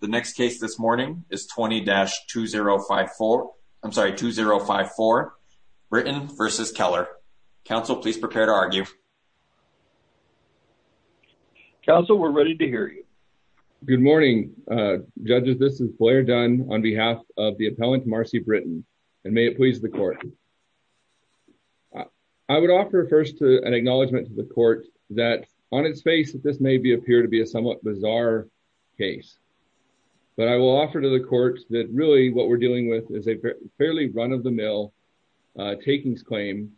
The next case this morning is 20-2054. I'm sorry, 2054, Britton v. Keller. Counsel, please prepare to argue. Counsel, we're ready to hear you. Good morning, judges. This is Blair Dunn on behalf of the appellant Marcy Britton, and may it please the court. I would offer first an acknowledgement to the court that on its face that this may be appear to be a somewhat bizarre case. But I will offer to the court that really what we're dealing with is a fairly run-of-the-mill takings claim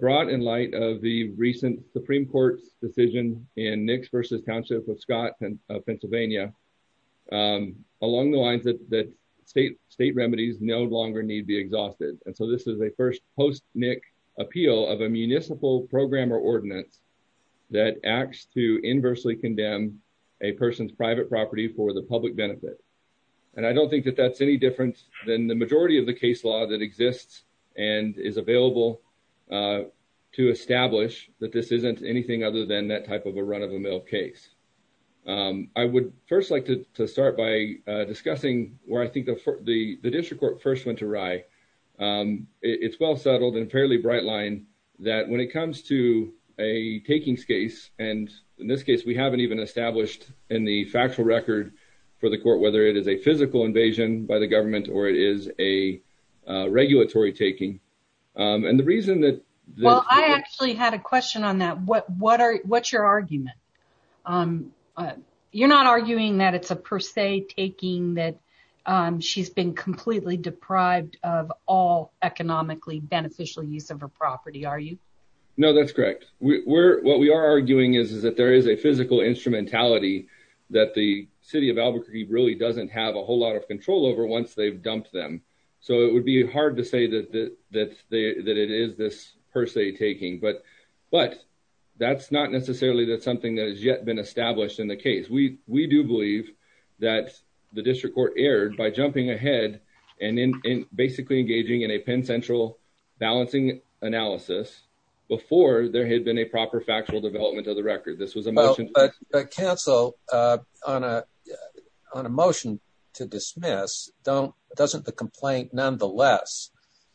brought in light of the recent Supreme Court's decision in Nix v. Township of Scott, Pennsylvania, along the lines that state remedies no longer need be exhausted. And so this is a first post-Nick appeal of a municipal programmer ordinance that acts to inversely condemn a person's private property for the public benefit. And I don't think that that's any different than the majority of the case law that exists and is available to establish that this isn't anything other than that type of a run-of-the-mill case. I would first like to start by discussing where I think the district court first went awry. It's well settled and fairly bright line that when it comes to a takings case, and in this case we haven't even established in the factual record for the court whether it is a physical invasion by the government or it is a regulatory taking, and the reason that... Well I actually had a question on that. What's your argument? You're not arguing that it's a per se taking that she's been completely deprived of all beneficial use of her property, are you? No, that's correct. What we are arguing is that there is a physical instrumentality that the city of Albuquerque really doesn't have a whole lot of control over once they've dumped them. So it would be hard to say that it is this per se taking, but that's not necessarily that something that has yet been established in the case. We do believe that the district court erred by jumping ahead and basically engaging in a consensual balancing analysis before there had been a proper factual development of the record. This was a motion... But counsel, on a motion to dismiss, doesn't the complaint nonetheless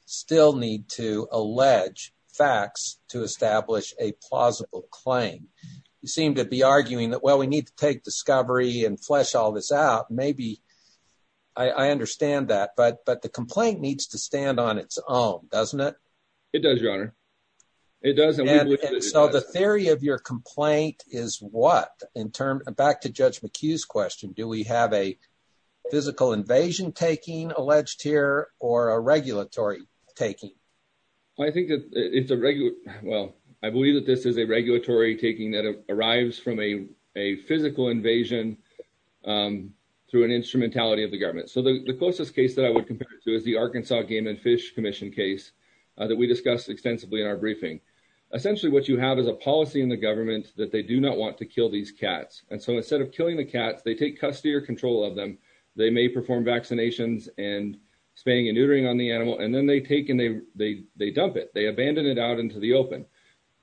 still need to allege facts to establish a plausible claim? You seem to be arguing that well we need to take discovery and flesh all this out. Maybe I understand that, but the complaint needs to stand on its own, doesn't it? It does, your honor. So the theory of your complaint is what? Back to Judge McHugh's question, do we have a physical invasion taking alleged here or a regulatory taking? I believe that this is a regulatory taking that arrives from a physical invasion through an instrumentality of the government. So the closest case that I would compare it to is the Arkansas Game and Fish Commission case that we discussed extensively in our briefing. Essentially what you have is a policy in the government that they do not want to kill these cats. And so instead of killing the cats, they take custody or control of them. They may perform vaccinations and spaying and neutering on the animal, and then they take and they dump it. They abandon it out into the open.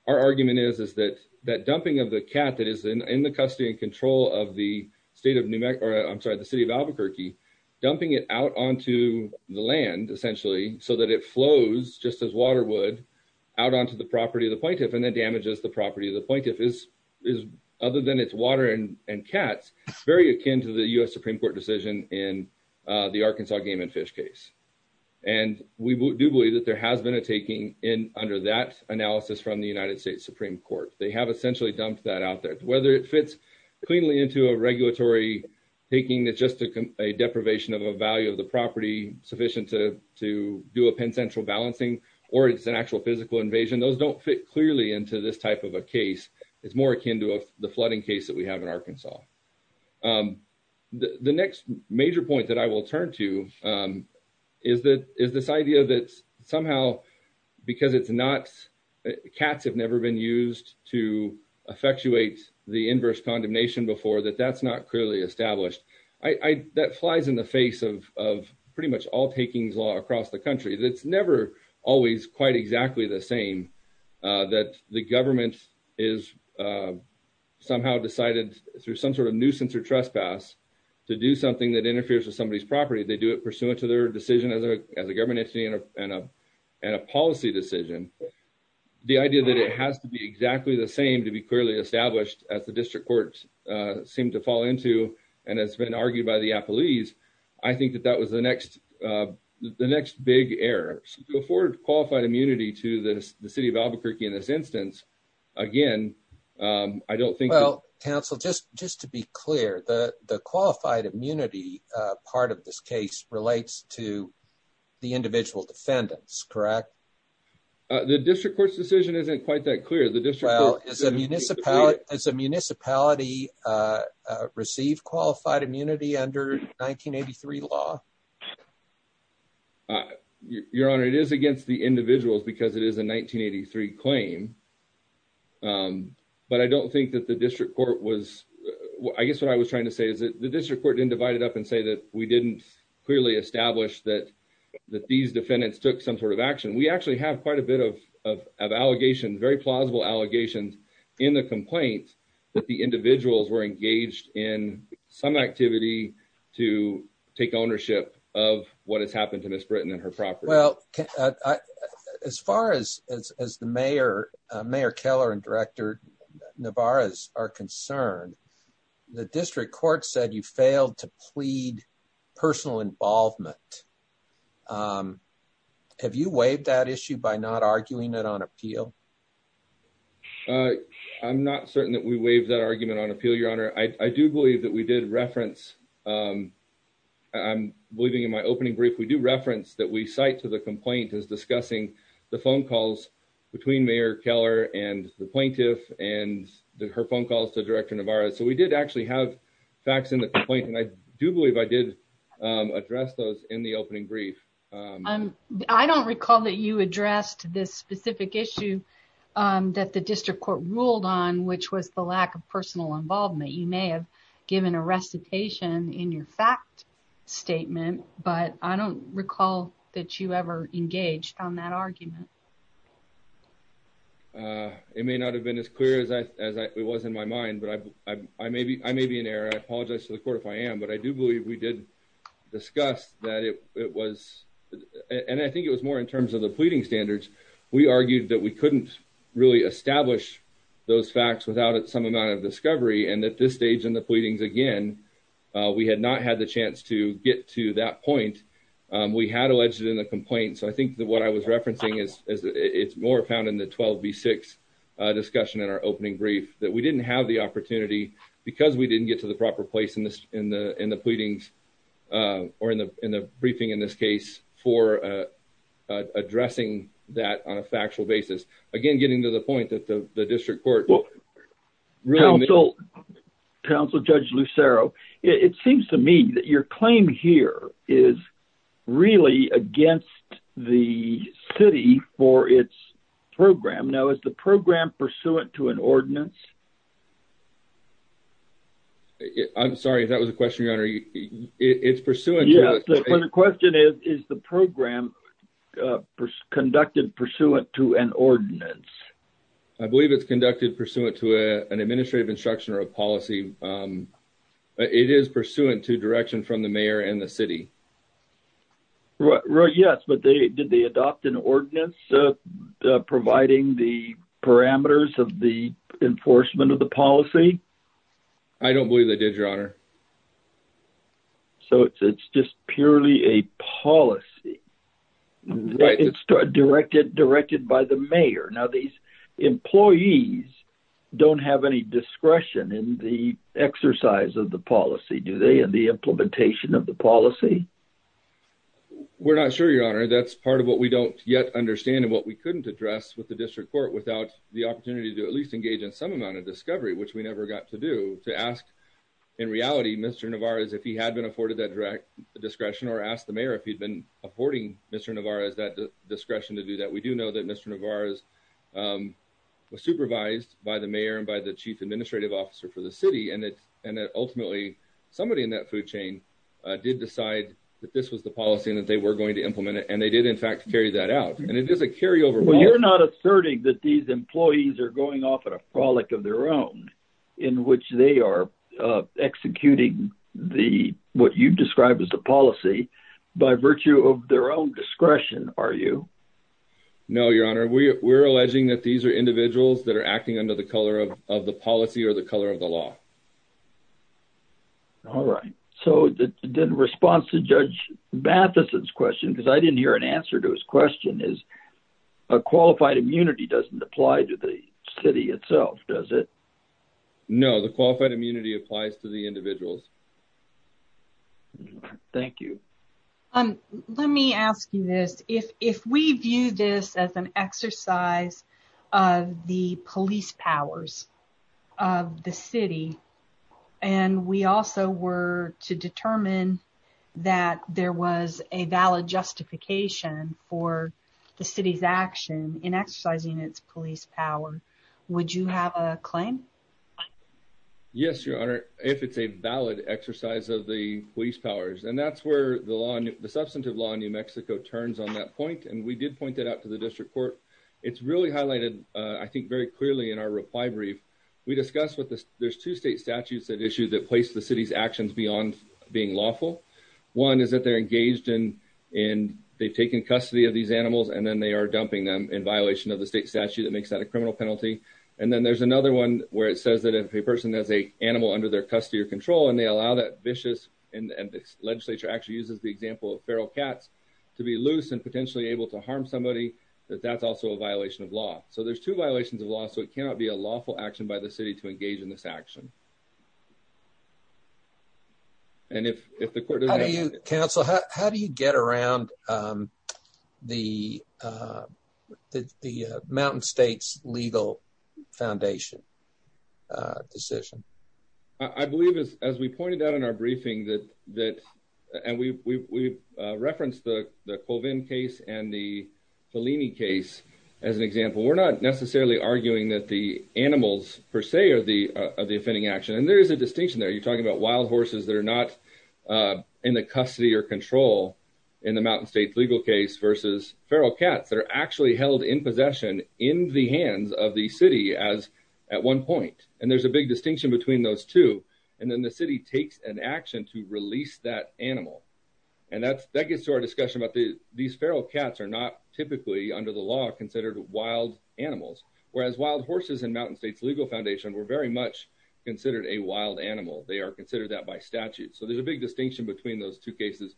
Our argument is that dumping of the cat that is in the custody and control of the state of New Mexico... I'm sorry, the city of Albuquerque, dumping it out onto the land essentially so that it flows just as water would out onto the property of the plaintiff and then damages the property of the plaintiff is, other than it's water and cats, very akin to the U.S. Supreme Court decision in the Arkansas Game and Fish case. And we do believe that there has been a taking under that analysis from the United States Supreme Court. They have essentially dumped that out there. Whether it fits cleanly into a regulatory taking that's just a deprivation of a value of the property sufficient to do a pen central balancing, or it's an actual physical invasion, those don't fit clearly into this type of a case. It's more akin to the flooding case that we have in Arkansas. The next major point that I will turn to is this idea that somehow because cats have never been used to effectuate the inverse condemnation before, that that's not clearly established. That flies in the face of pretty much all takings law across the country. It's never always quite exactly the same that the government is somehow decided through some sort of nuisance or trespass to do something that interferes with somebody's property. They do it pursuant to their decision as a government entity and a policy decision. The idea that it has to be exactly the same to be clearly established as the courts seem to fall into and has been argued by the police, I think that that was the next big error. To afford qualified immunity to the city of Albuquerque in this instance, again, I don't think... Well, counsel, just to be clear, the qualified immunity part of this case relates to the individual defendants, correct? The district court's decision isn't quite that it's against the individuals because it is a 1983 claim, but I don't think that the district court was... I guess what I was trying to say is that the district court didn't divide it up and say that we didn't clearly establish that these defendants took some sort of action. We actually have quite a bit of allegations, very plausible allegations in the complaint that the individuals were engaged in some activity to take ownership of what has happened to Miss Britton and her property. Well, as far as Mayor Keller and Director Navarez are concerned, the district by not arguing it on appeal? I'm not certain that we waived that argument on appeal, Your Honor. I do believe that we did reference... I'm believing in my opening brief, we do reference that we cite to the complaint as discussing the phone calls between Mayor Keller and the plaintiff and her phone calls to Director Navarez. So we did actually have facts in the complaint and I do believe I did address those in the opening brief. I don't recall that you addressed this specific issue that the district court ruled on, which was the lack of personal involvement. You may have given a recitation in your fact statement, but I don't recall that you ever engaged on that argument. It may not have been as clear as it was in my mind, but I may be in error. I apologize to the court if I am, but I do believe we did discuss that it was and I think it was more in terms of the pleading standards. We argued that we couldn't really establish those facts without some amount of discovery and at this stage in the pleadings again, we had not had the chance to get to that point. We had alleged in the complaint, so I think that what I was referencing is it's more found in the 12b6 discussion in our opening brief that we didn't have the opportunity because we didn't get to the proper place in the pleadings or in the briefing in this case for addressing that on a factual basis. Again, getting to the point that the district court. Council Judge Lucero, it seems to me that your claim here is really against the city for its program. Now is the program pursuant to an ordinance? I'm sorry if that was a question, your honor. It's pursuant. The question is, is the program conducted pursuant to an ordinance? I believe it's conducted pursuant to an administrative instruction or a policy. It is pursuant to direction from the mayor and the city. Yes, but did they adopt an ordinance providing the parameters of the enforcement of the policy? I don't believe they did, your honor. So it's just purely a policy. It's directed by the mayor. Now these employees don't have any discretion in the exercise of the policy, do they, in the implementation of the policy? We're not sure, your honor. That's part of what we don't yet understand and what we couldn't address with the district court without the opportunity to at least engage in some amount of discovery, which we never got to do, to ask, in reality, Mr. Navarez, if he had been afforded that direct discretion or ask the mayor if he'd been affording Mr. Navarez that discretion to do that. We do know that Mr. Navarez was supervised by the mayor and by the chief administrative officer for the city and that ultimately somebody in that food chain did decide that this was the policy and that they were going to implement it and they did in fact carry that out. And it is a carryover. Well, you're not asserting that these in which they are executing what you've described as the policy by virtue of their own discretion, are you? No, your honor. We're alleging that these are individuals that are acting under the color of the policy or the color of the law. All right. So the response to Judge Matheson's question, because I didn't hear an answer to his question, is a qualified immunity doesn't apply to the city itself, does it? No, the qualified immunity applies to the individuals. Thank you. Let me ask you this. If we view this as an exercise of the police powers of the city and we also were to determine that there was a valid justification for the city's action in exercising its police power, would you have a claim? Yes, your honor, if it's a valid exercise of the police powers. And that's where the law, the substantive law in New Mexico turns on that point. And we did point that out to the district court. It's really highlighted, I think, very clearly in our reply brief. We discussed what there's two state statutes that issue that place the city's actions beyond being lawful. One is that they're engaged in and they've taken custody of these animals and then they are dumping them in violation of the state statute that makes that a criminal penalty. And then there's another one where it says that if a person has a animal under their custody or control and they allow that vicious and the legislature actually uses the example of feral cats to be loose and potentially able to harm somebody, that that's also a violation of law. So there's two violations of law. So it cannot be a lawful action by the city to engage in this action. And if the court. Counsel, how do you get around the the Mountain States legal foundation decision? I believe, as we pointed out in our briefing, that that and we've referenced the Colvin case and the Fellini case as an example, we're not necessarily arguing that the animals per se are the of the offending action. And there is a distinction there. You're talking about wild in the custody or control in the Mountain States legal case versus feral cats that are actually held in possession in the hands of the city as at one point. And there's a big distinction between those two. And then the city takes an action to release that animal. And that's that gets to our discussion about the these feral cats are not typically under the law considered wild animals, whereas wild horses and Mountain States legal foundation were very much considered a wild animal. They are considered that by statute. So there's a big distinction between those two cases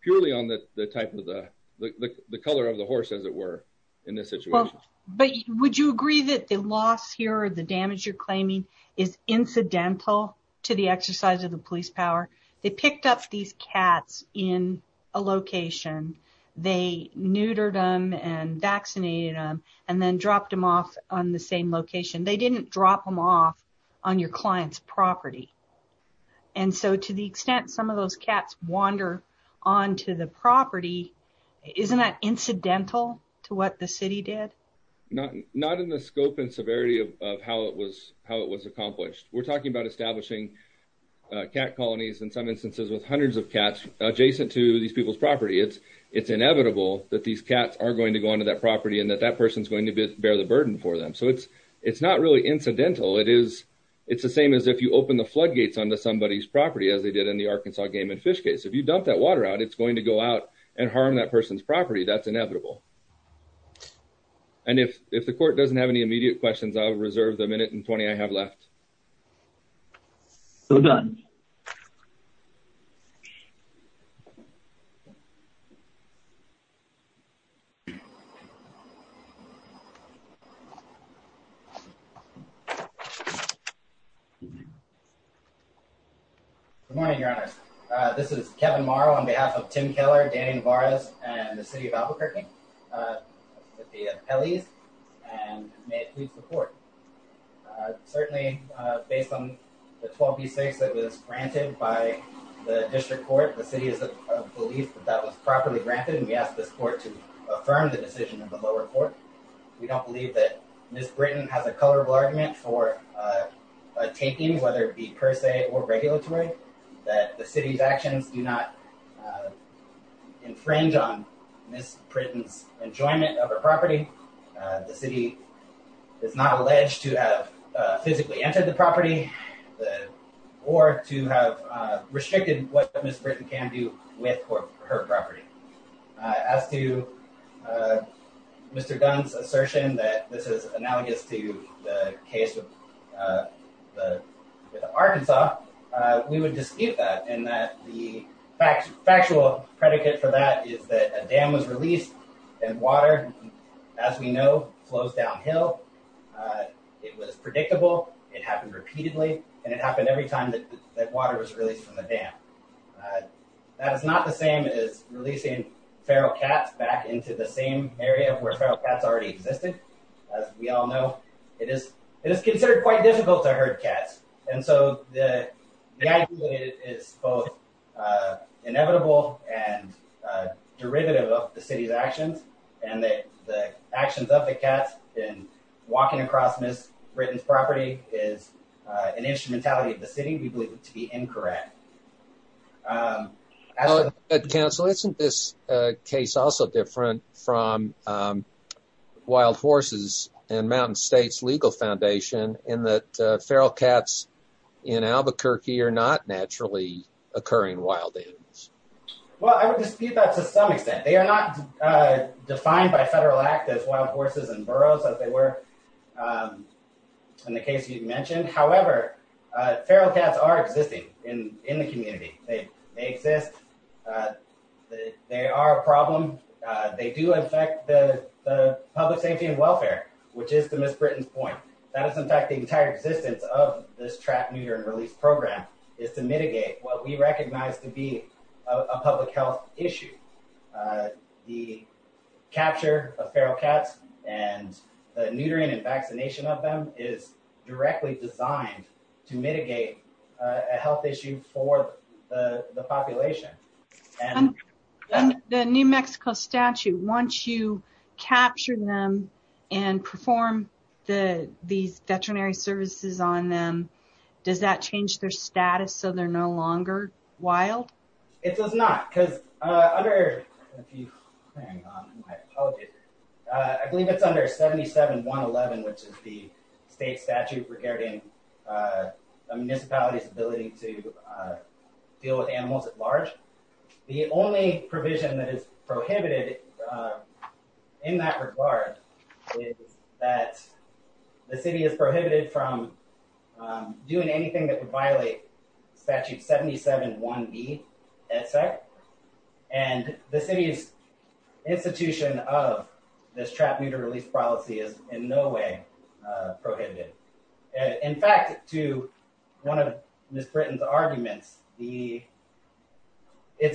purely on the type of the color of the horse, as it were in this situation. But would you agree that the loss here, the damage you're claiming is incidental to the exercise of the police power? They picked up these cats in a location. They neutered them and vaccinated them and then dropped them off on the same location. They didn't drop them off on your client's property. And so to the extent some of those cats wander onto the property, isn't that incidental to what the city did? Not in the scope and severity of how it was accomplished. We're talking about establishing cat colonies in some instances with hundreds of cats adjacent to these people's property. It's inevitable that these cats are going to go onto that property and that that person's going to bear the burden for them. So it's not really incidental. It is the same as if you open the floodgates onto somebody's property as they did in the Arkansas game and fish case. If you dump that water out, it's going to go out and harm that person's property. That's inevitable. And if the court doesn't have any immediate questions, I'll reserve the minute and 20 I have left. So done. Good morning, Your Honor. This is Kevin Morrow on behalf of Tim Keller, Danny Navarez, and the city of Albuquerque. Certainly based on the 12B6 that was granted by the district court, the city is of belief that that was properly granted. And we asked this court to affirm the decision of the lower court. We don't believe that Ms. Britton has a colorable argument for a taking, whether it be per se or regulatory, that the city's actions do not infringe on Ms. Britton's enjoyment of her property. The city is not alleged to have physically entered the property or to have restricted what Ms. Britton can do with her property. With Arkansas, we would dispute that. And the factual predicate for that is that a dam was released and water, as we know, flows downhill. It was predictable. It happened repeatedly. And it happened every time that water was released from the dam. That is not the same as releasing feral cats back into the same area where feral cats already existed. As we all know, it is considered quite difficult to herd cats. And so the idea that it is both inevitable and derivative of the city's actions, and that the actions of the cats in walking across Ms. Britton's property is an instrumentality of the city, we believe to be incorrect. Well, Council, isn't this case also different from wild horses and Mountain State's legal foundation in that feral cats in Albuquerque are not naturally occurring wild animals? Well, I would dispute that to some extent. They are not defined by federal act as wild horses and burros as they were in the case you've mentioned. However, feral cats are existing in the community. They exist. They are a problem. They do affect the public safety and welfare, which is to Ms. Britton's point. That is, in fact, the entire existence of this trap, neuter, and release program is to mitigate what we recognize to be a public health issue. The capture of feral cats and the neutering and vaccination of them is directly designed to mitigate a health issue for the population. The New Mexico statute, once you capture them and perform these veterinary services on them, does that change their status so they're no longer wild? It does not. I believe it's under 77-111, which is the state statute regarding a municipality's ability to deal with animals at large. The only provision that is prohibited in that regard is that the city is prohibited from doing anything that would violate statute 77-1B, and the city's institution of this trap, neuter, and release policy is in no way prohibited. In fact, to one of Ms. Britton's arguments, it's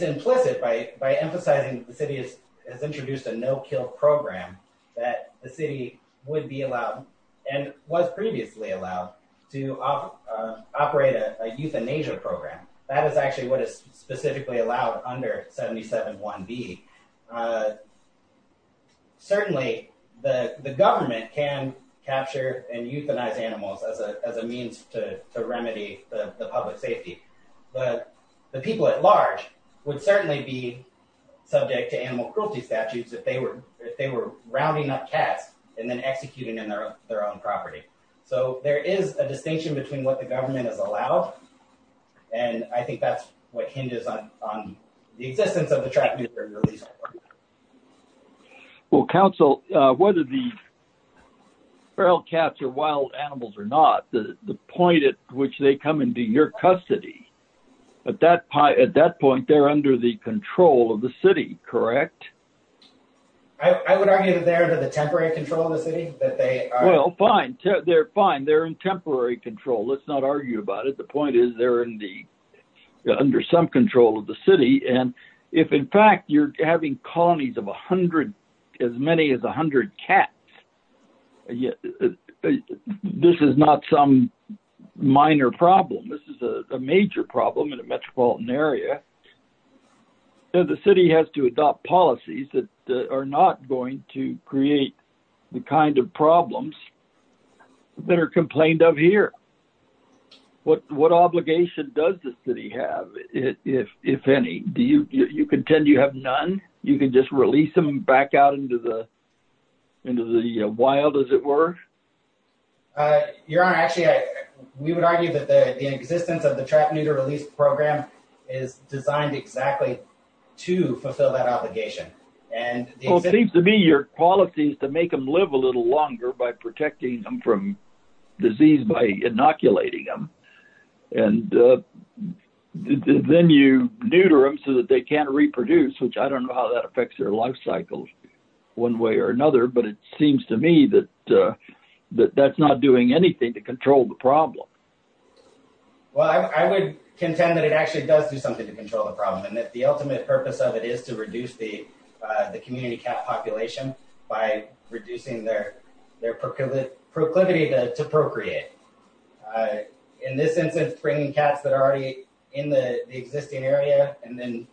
implicit by emphasizing that the city has introduced a no-kill program, that the city would be allowed and was previously allowed to operate a euthanasia program. That is actually what is specifically allowed under 77-1B. Certainly, the government can capture and euthanize animals as a means to remedy the public safety, but the people at large would certainly be subject to animal cruelty statutes if they were rounding up cats and then executing on their own property. There is a distinction between what the government has allowed, and I think that's what hinges on the existence of the trap, neuter, and release. Council, whether the feral cats are wild animals or not, the point at which they come into your custody, at that point, they're under the control of the city, correct? I would argue that they're under the temporary control of the city. Well, fine. They're fine. They're in temporary control. Let's not argue about it. The point is they're under some control of the city, and if in fact you're having colonies of as many as 100 cats, yes, this is not some minor problem. This is a major problem in a metropolitan area. The city has to adopt policies that are not going to create the kind of problems that are complained of here. What obligation does the city have, if any? You contend you have none? You can just release them back out into the wild, as it were? Your Honor, actually, we would argue that the existence of the trap, neuter, and release program is designed exactly to fulfill that obligation. Well, it seems to me your policy is to make them live a little longer by protecting them from disease by inoculating them, and then you neuter them so that they can't reproduce, which I don't know how that affects their life cycles one way or another, but it seems to me that that's not doing anything to control the problem. Well, I would contend that it actually does do something to control the problem, and that the ultimate purpose of it is to reduce the community cat population by reducing their proclivity to procreate. In this instance, bringing cats that are already in the existing area and then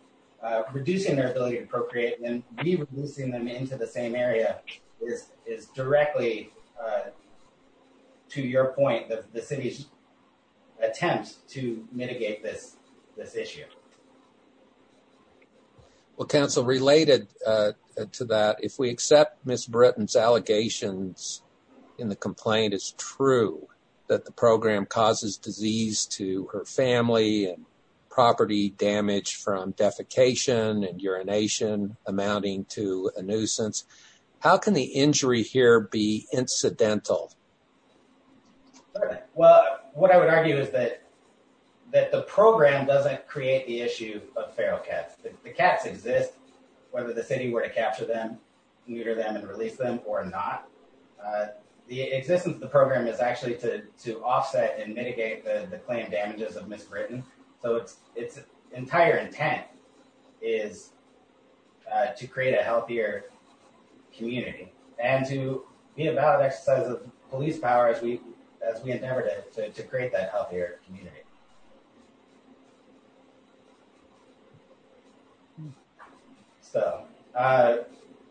reducing their ability to procreate and re-releasing them into the same area is directly, to your point, the city's attempt to mitigate this issue. Well, counsel, related to that, if we accept Ms. Britton's allegations in the complaint, it's true that the program causes disease to her family and property damage from defecation and urination amounting to a nuisance. How can the injury here be incidental? Well, what I would argue is that the program doesn't create the issue of feral cats. The cats exist whether the city were to capture them, neuter them, and release them or not. The existence of the program is actually to offset and mitigate the claim damages of Ms. Britton. So its entire intent is to create a healthier community and to be a valid exercise of police power as we endeavor to create that healthier community. So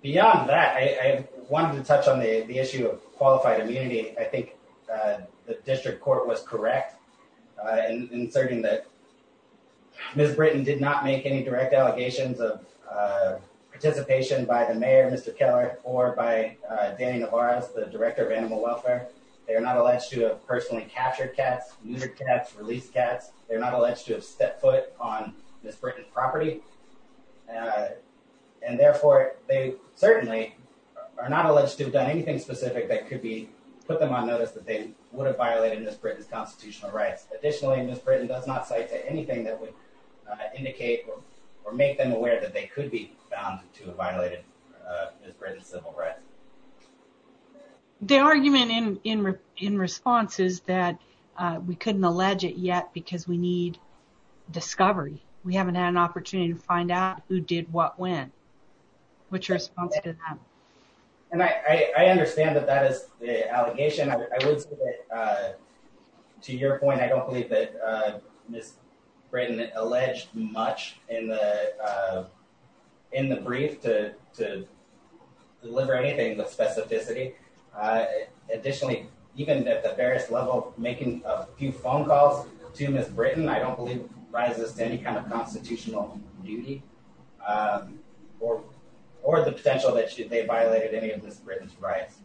beyond that, I wanted to touch on the issue of qualified immunity. I think the district court was correct in asserting that Ms. Britton did not make any direct allegations of participation by the mayor, Mr. Keller, or by Danny Nevarez, the director of animal welfare. They are not alleged to have personally captured cats, neutered cats, released cats. They're not alleged to have stepped foot on Ms. Britton's property and therefore they certainly are not alleged to have done anything specific that could put them on notice that they would have violated Ms. Britton's constitutional rights. Additionally, Ms. Britton does not cite to anything that would indicate or make them aware that they could be found to have violated Ms. Britton's civil rights. The argument in response is that we couldn't allege it yet because we need discovery. We haven't had an opportunity to find out who did what when. What's your response to that? And I understand that that is the allegation. I would say that to your point, I don't believe Ms. Britton alleged much in the brief to deliver anything with specificity. Additionally, even at the various level, making a few phone calls to Ms. Britton, I don't believe rises to any kind of constitutional duty or the potential that they violated any of Ms. Britton's rights.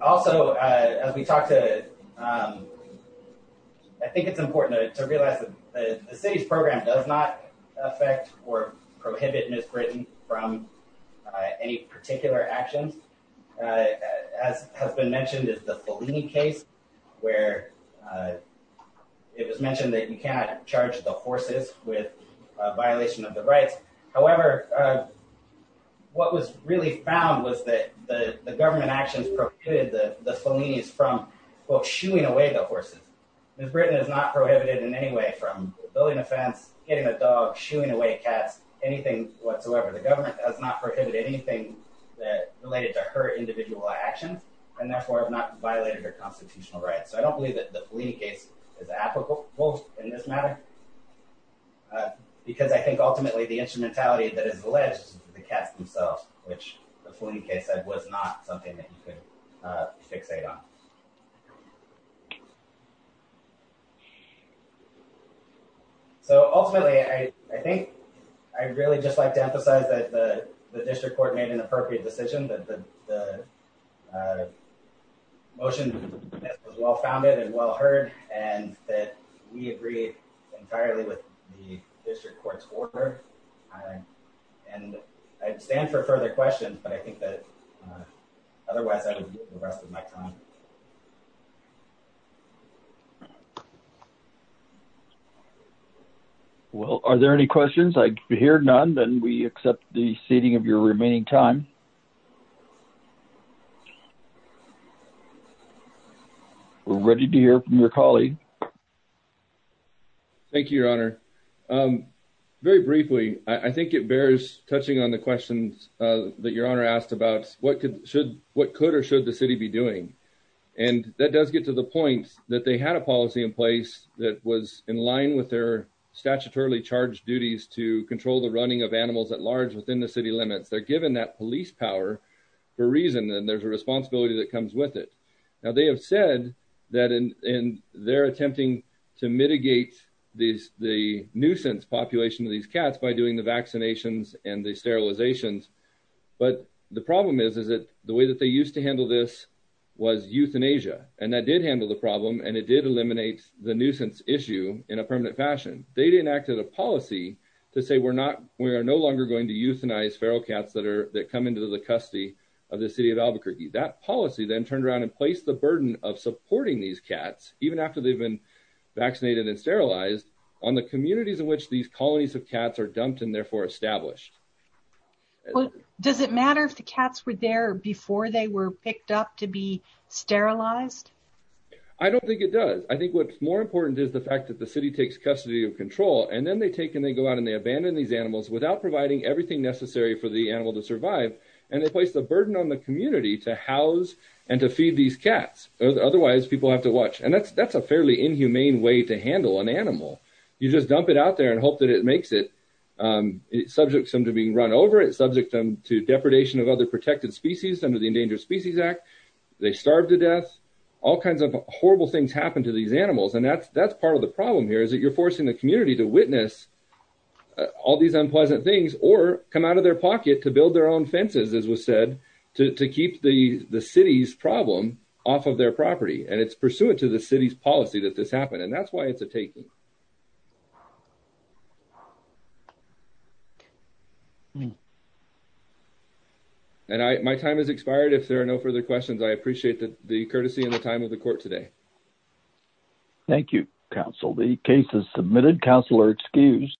Also, as we talked to, I think it's important to realize that the city's program does not affect or prohibit Ms. Britton from any particular actions. As has been mentioned is the Fellini case, where it was mentioned that you cannot charge the horses with a violation of the rights. However, what was really found was that the government actions prohibited the Fellinis from, quote, shooing away the horses. Ms. Britton is not prohibited in any way from building a fence, getting a dog, shooing away cats, anything whatsoever. The government has not prohibited anything that related to her individual actions and therefore have not violated her constitutional rights. So I don't believe that the Fellini case is applicable in this matter because I think ultimately the instrumentality that is alleged to the cats themselves, which the Fellini case said was not something that you could fixate on. So ultimately, I think I'd really just like to emphasize that the district court made an appropriate decision that the motion was well founded and well heard and that we agreed entirely with the district court's order. And I stand for further questions, but I think that otherwise I would give the rest of my time. Well, are there any questions? I hear none. Then we accept the seating of your remaining time. We're ready to hear from your colleague. Thank you, Your Honor. Very briefly, I think it bears touching on the questions that Your Honor asked about what could or should the city be doing. And that does get to the point that they had a policy in place that was in line with their statutorily charged duties to control the running of animals at large within the city limits. They're given that police power for a reason, and there's a responsibility that comes with it. Now, they have said that in their attempting to mitigate the nuisance population of these cats by doing the vaccinations and the sterilizations. But the problem is that the way that they used to handle this was euthanasia. And that did handle the problem, and it did eliminate the nuisance issue in a permanent fashion. They enacted a policy to say we are no longer going to euthanize feral cats that come into the custody of the city of Albuquerque. That policy then turned around and placed the burden of supporting these cats, even after they've been vaccinated and sterilized, on the communities in which these colonies of cats are dumped and therefore established. Does it matter if the cats were there before they were picked up to be sterilized? I don't think it does. I think what's more important is the fact that the city takes custody of control, and then they take and they go out and they abandon these animals without providing everything necessary for the animal to survive. And they place the burden on the community to house and to feed these cats. Otherwise, people have to watch. And that's a fairly inhumane way to handle an animal. You just dump it out there and hope that it makes it. It subjects them to being run over. It subjects them to depredation of other protected species under the Endangered Species Act. They starve to death. All kinds of horrible things happen to these animals. And that's part of the problem here, is that you're forcing the community to witness all these unpleasant things or come out of their pocket to build their own fences, as was said, to keep the city's problem off of their property. And it's pursuant to the city's policy that this happened. And that's why it's a taking. And my time has expired. If there are no further questions, I appreciate the courtesy and the time of the court today. Thank you, counsel. The case is submitted. Counsel are excused.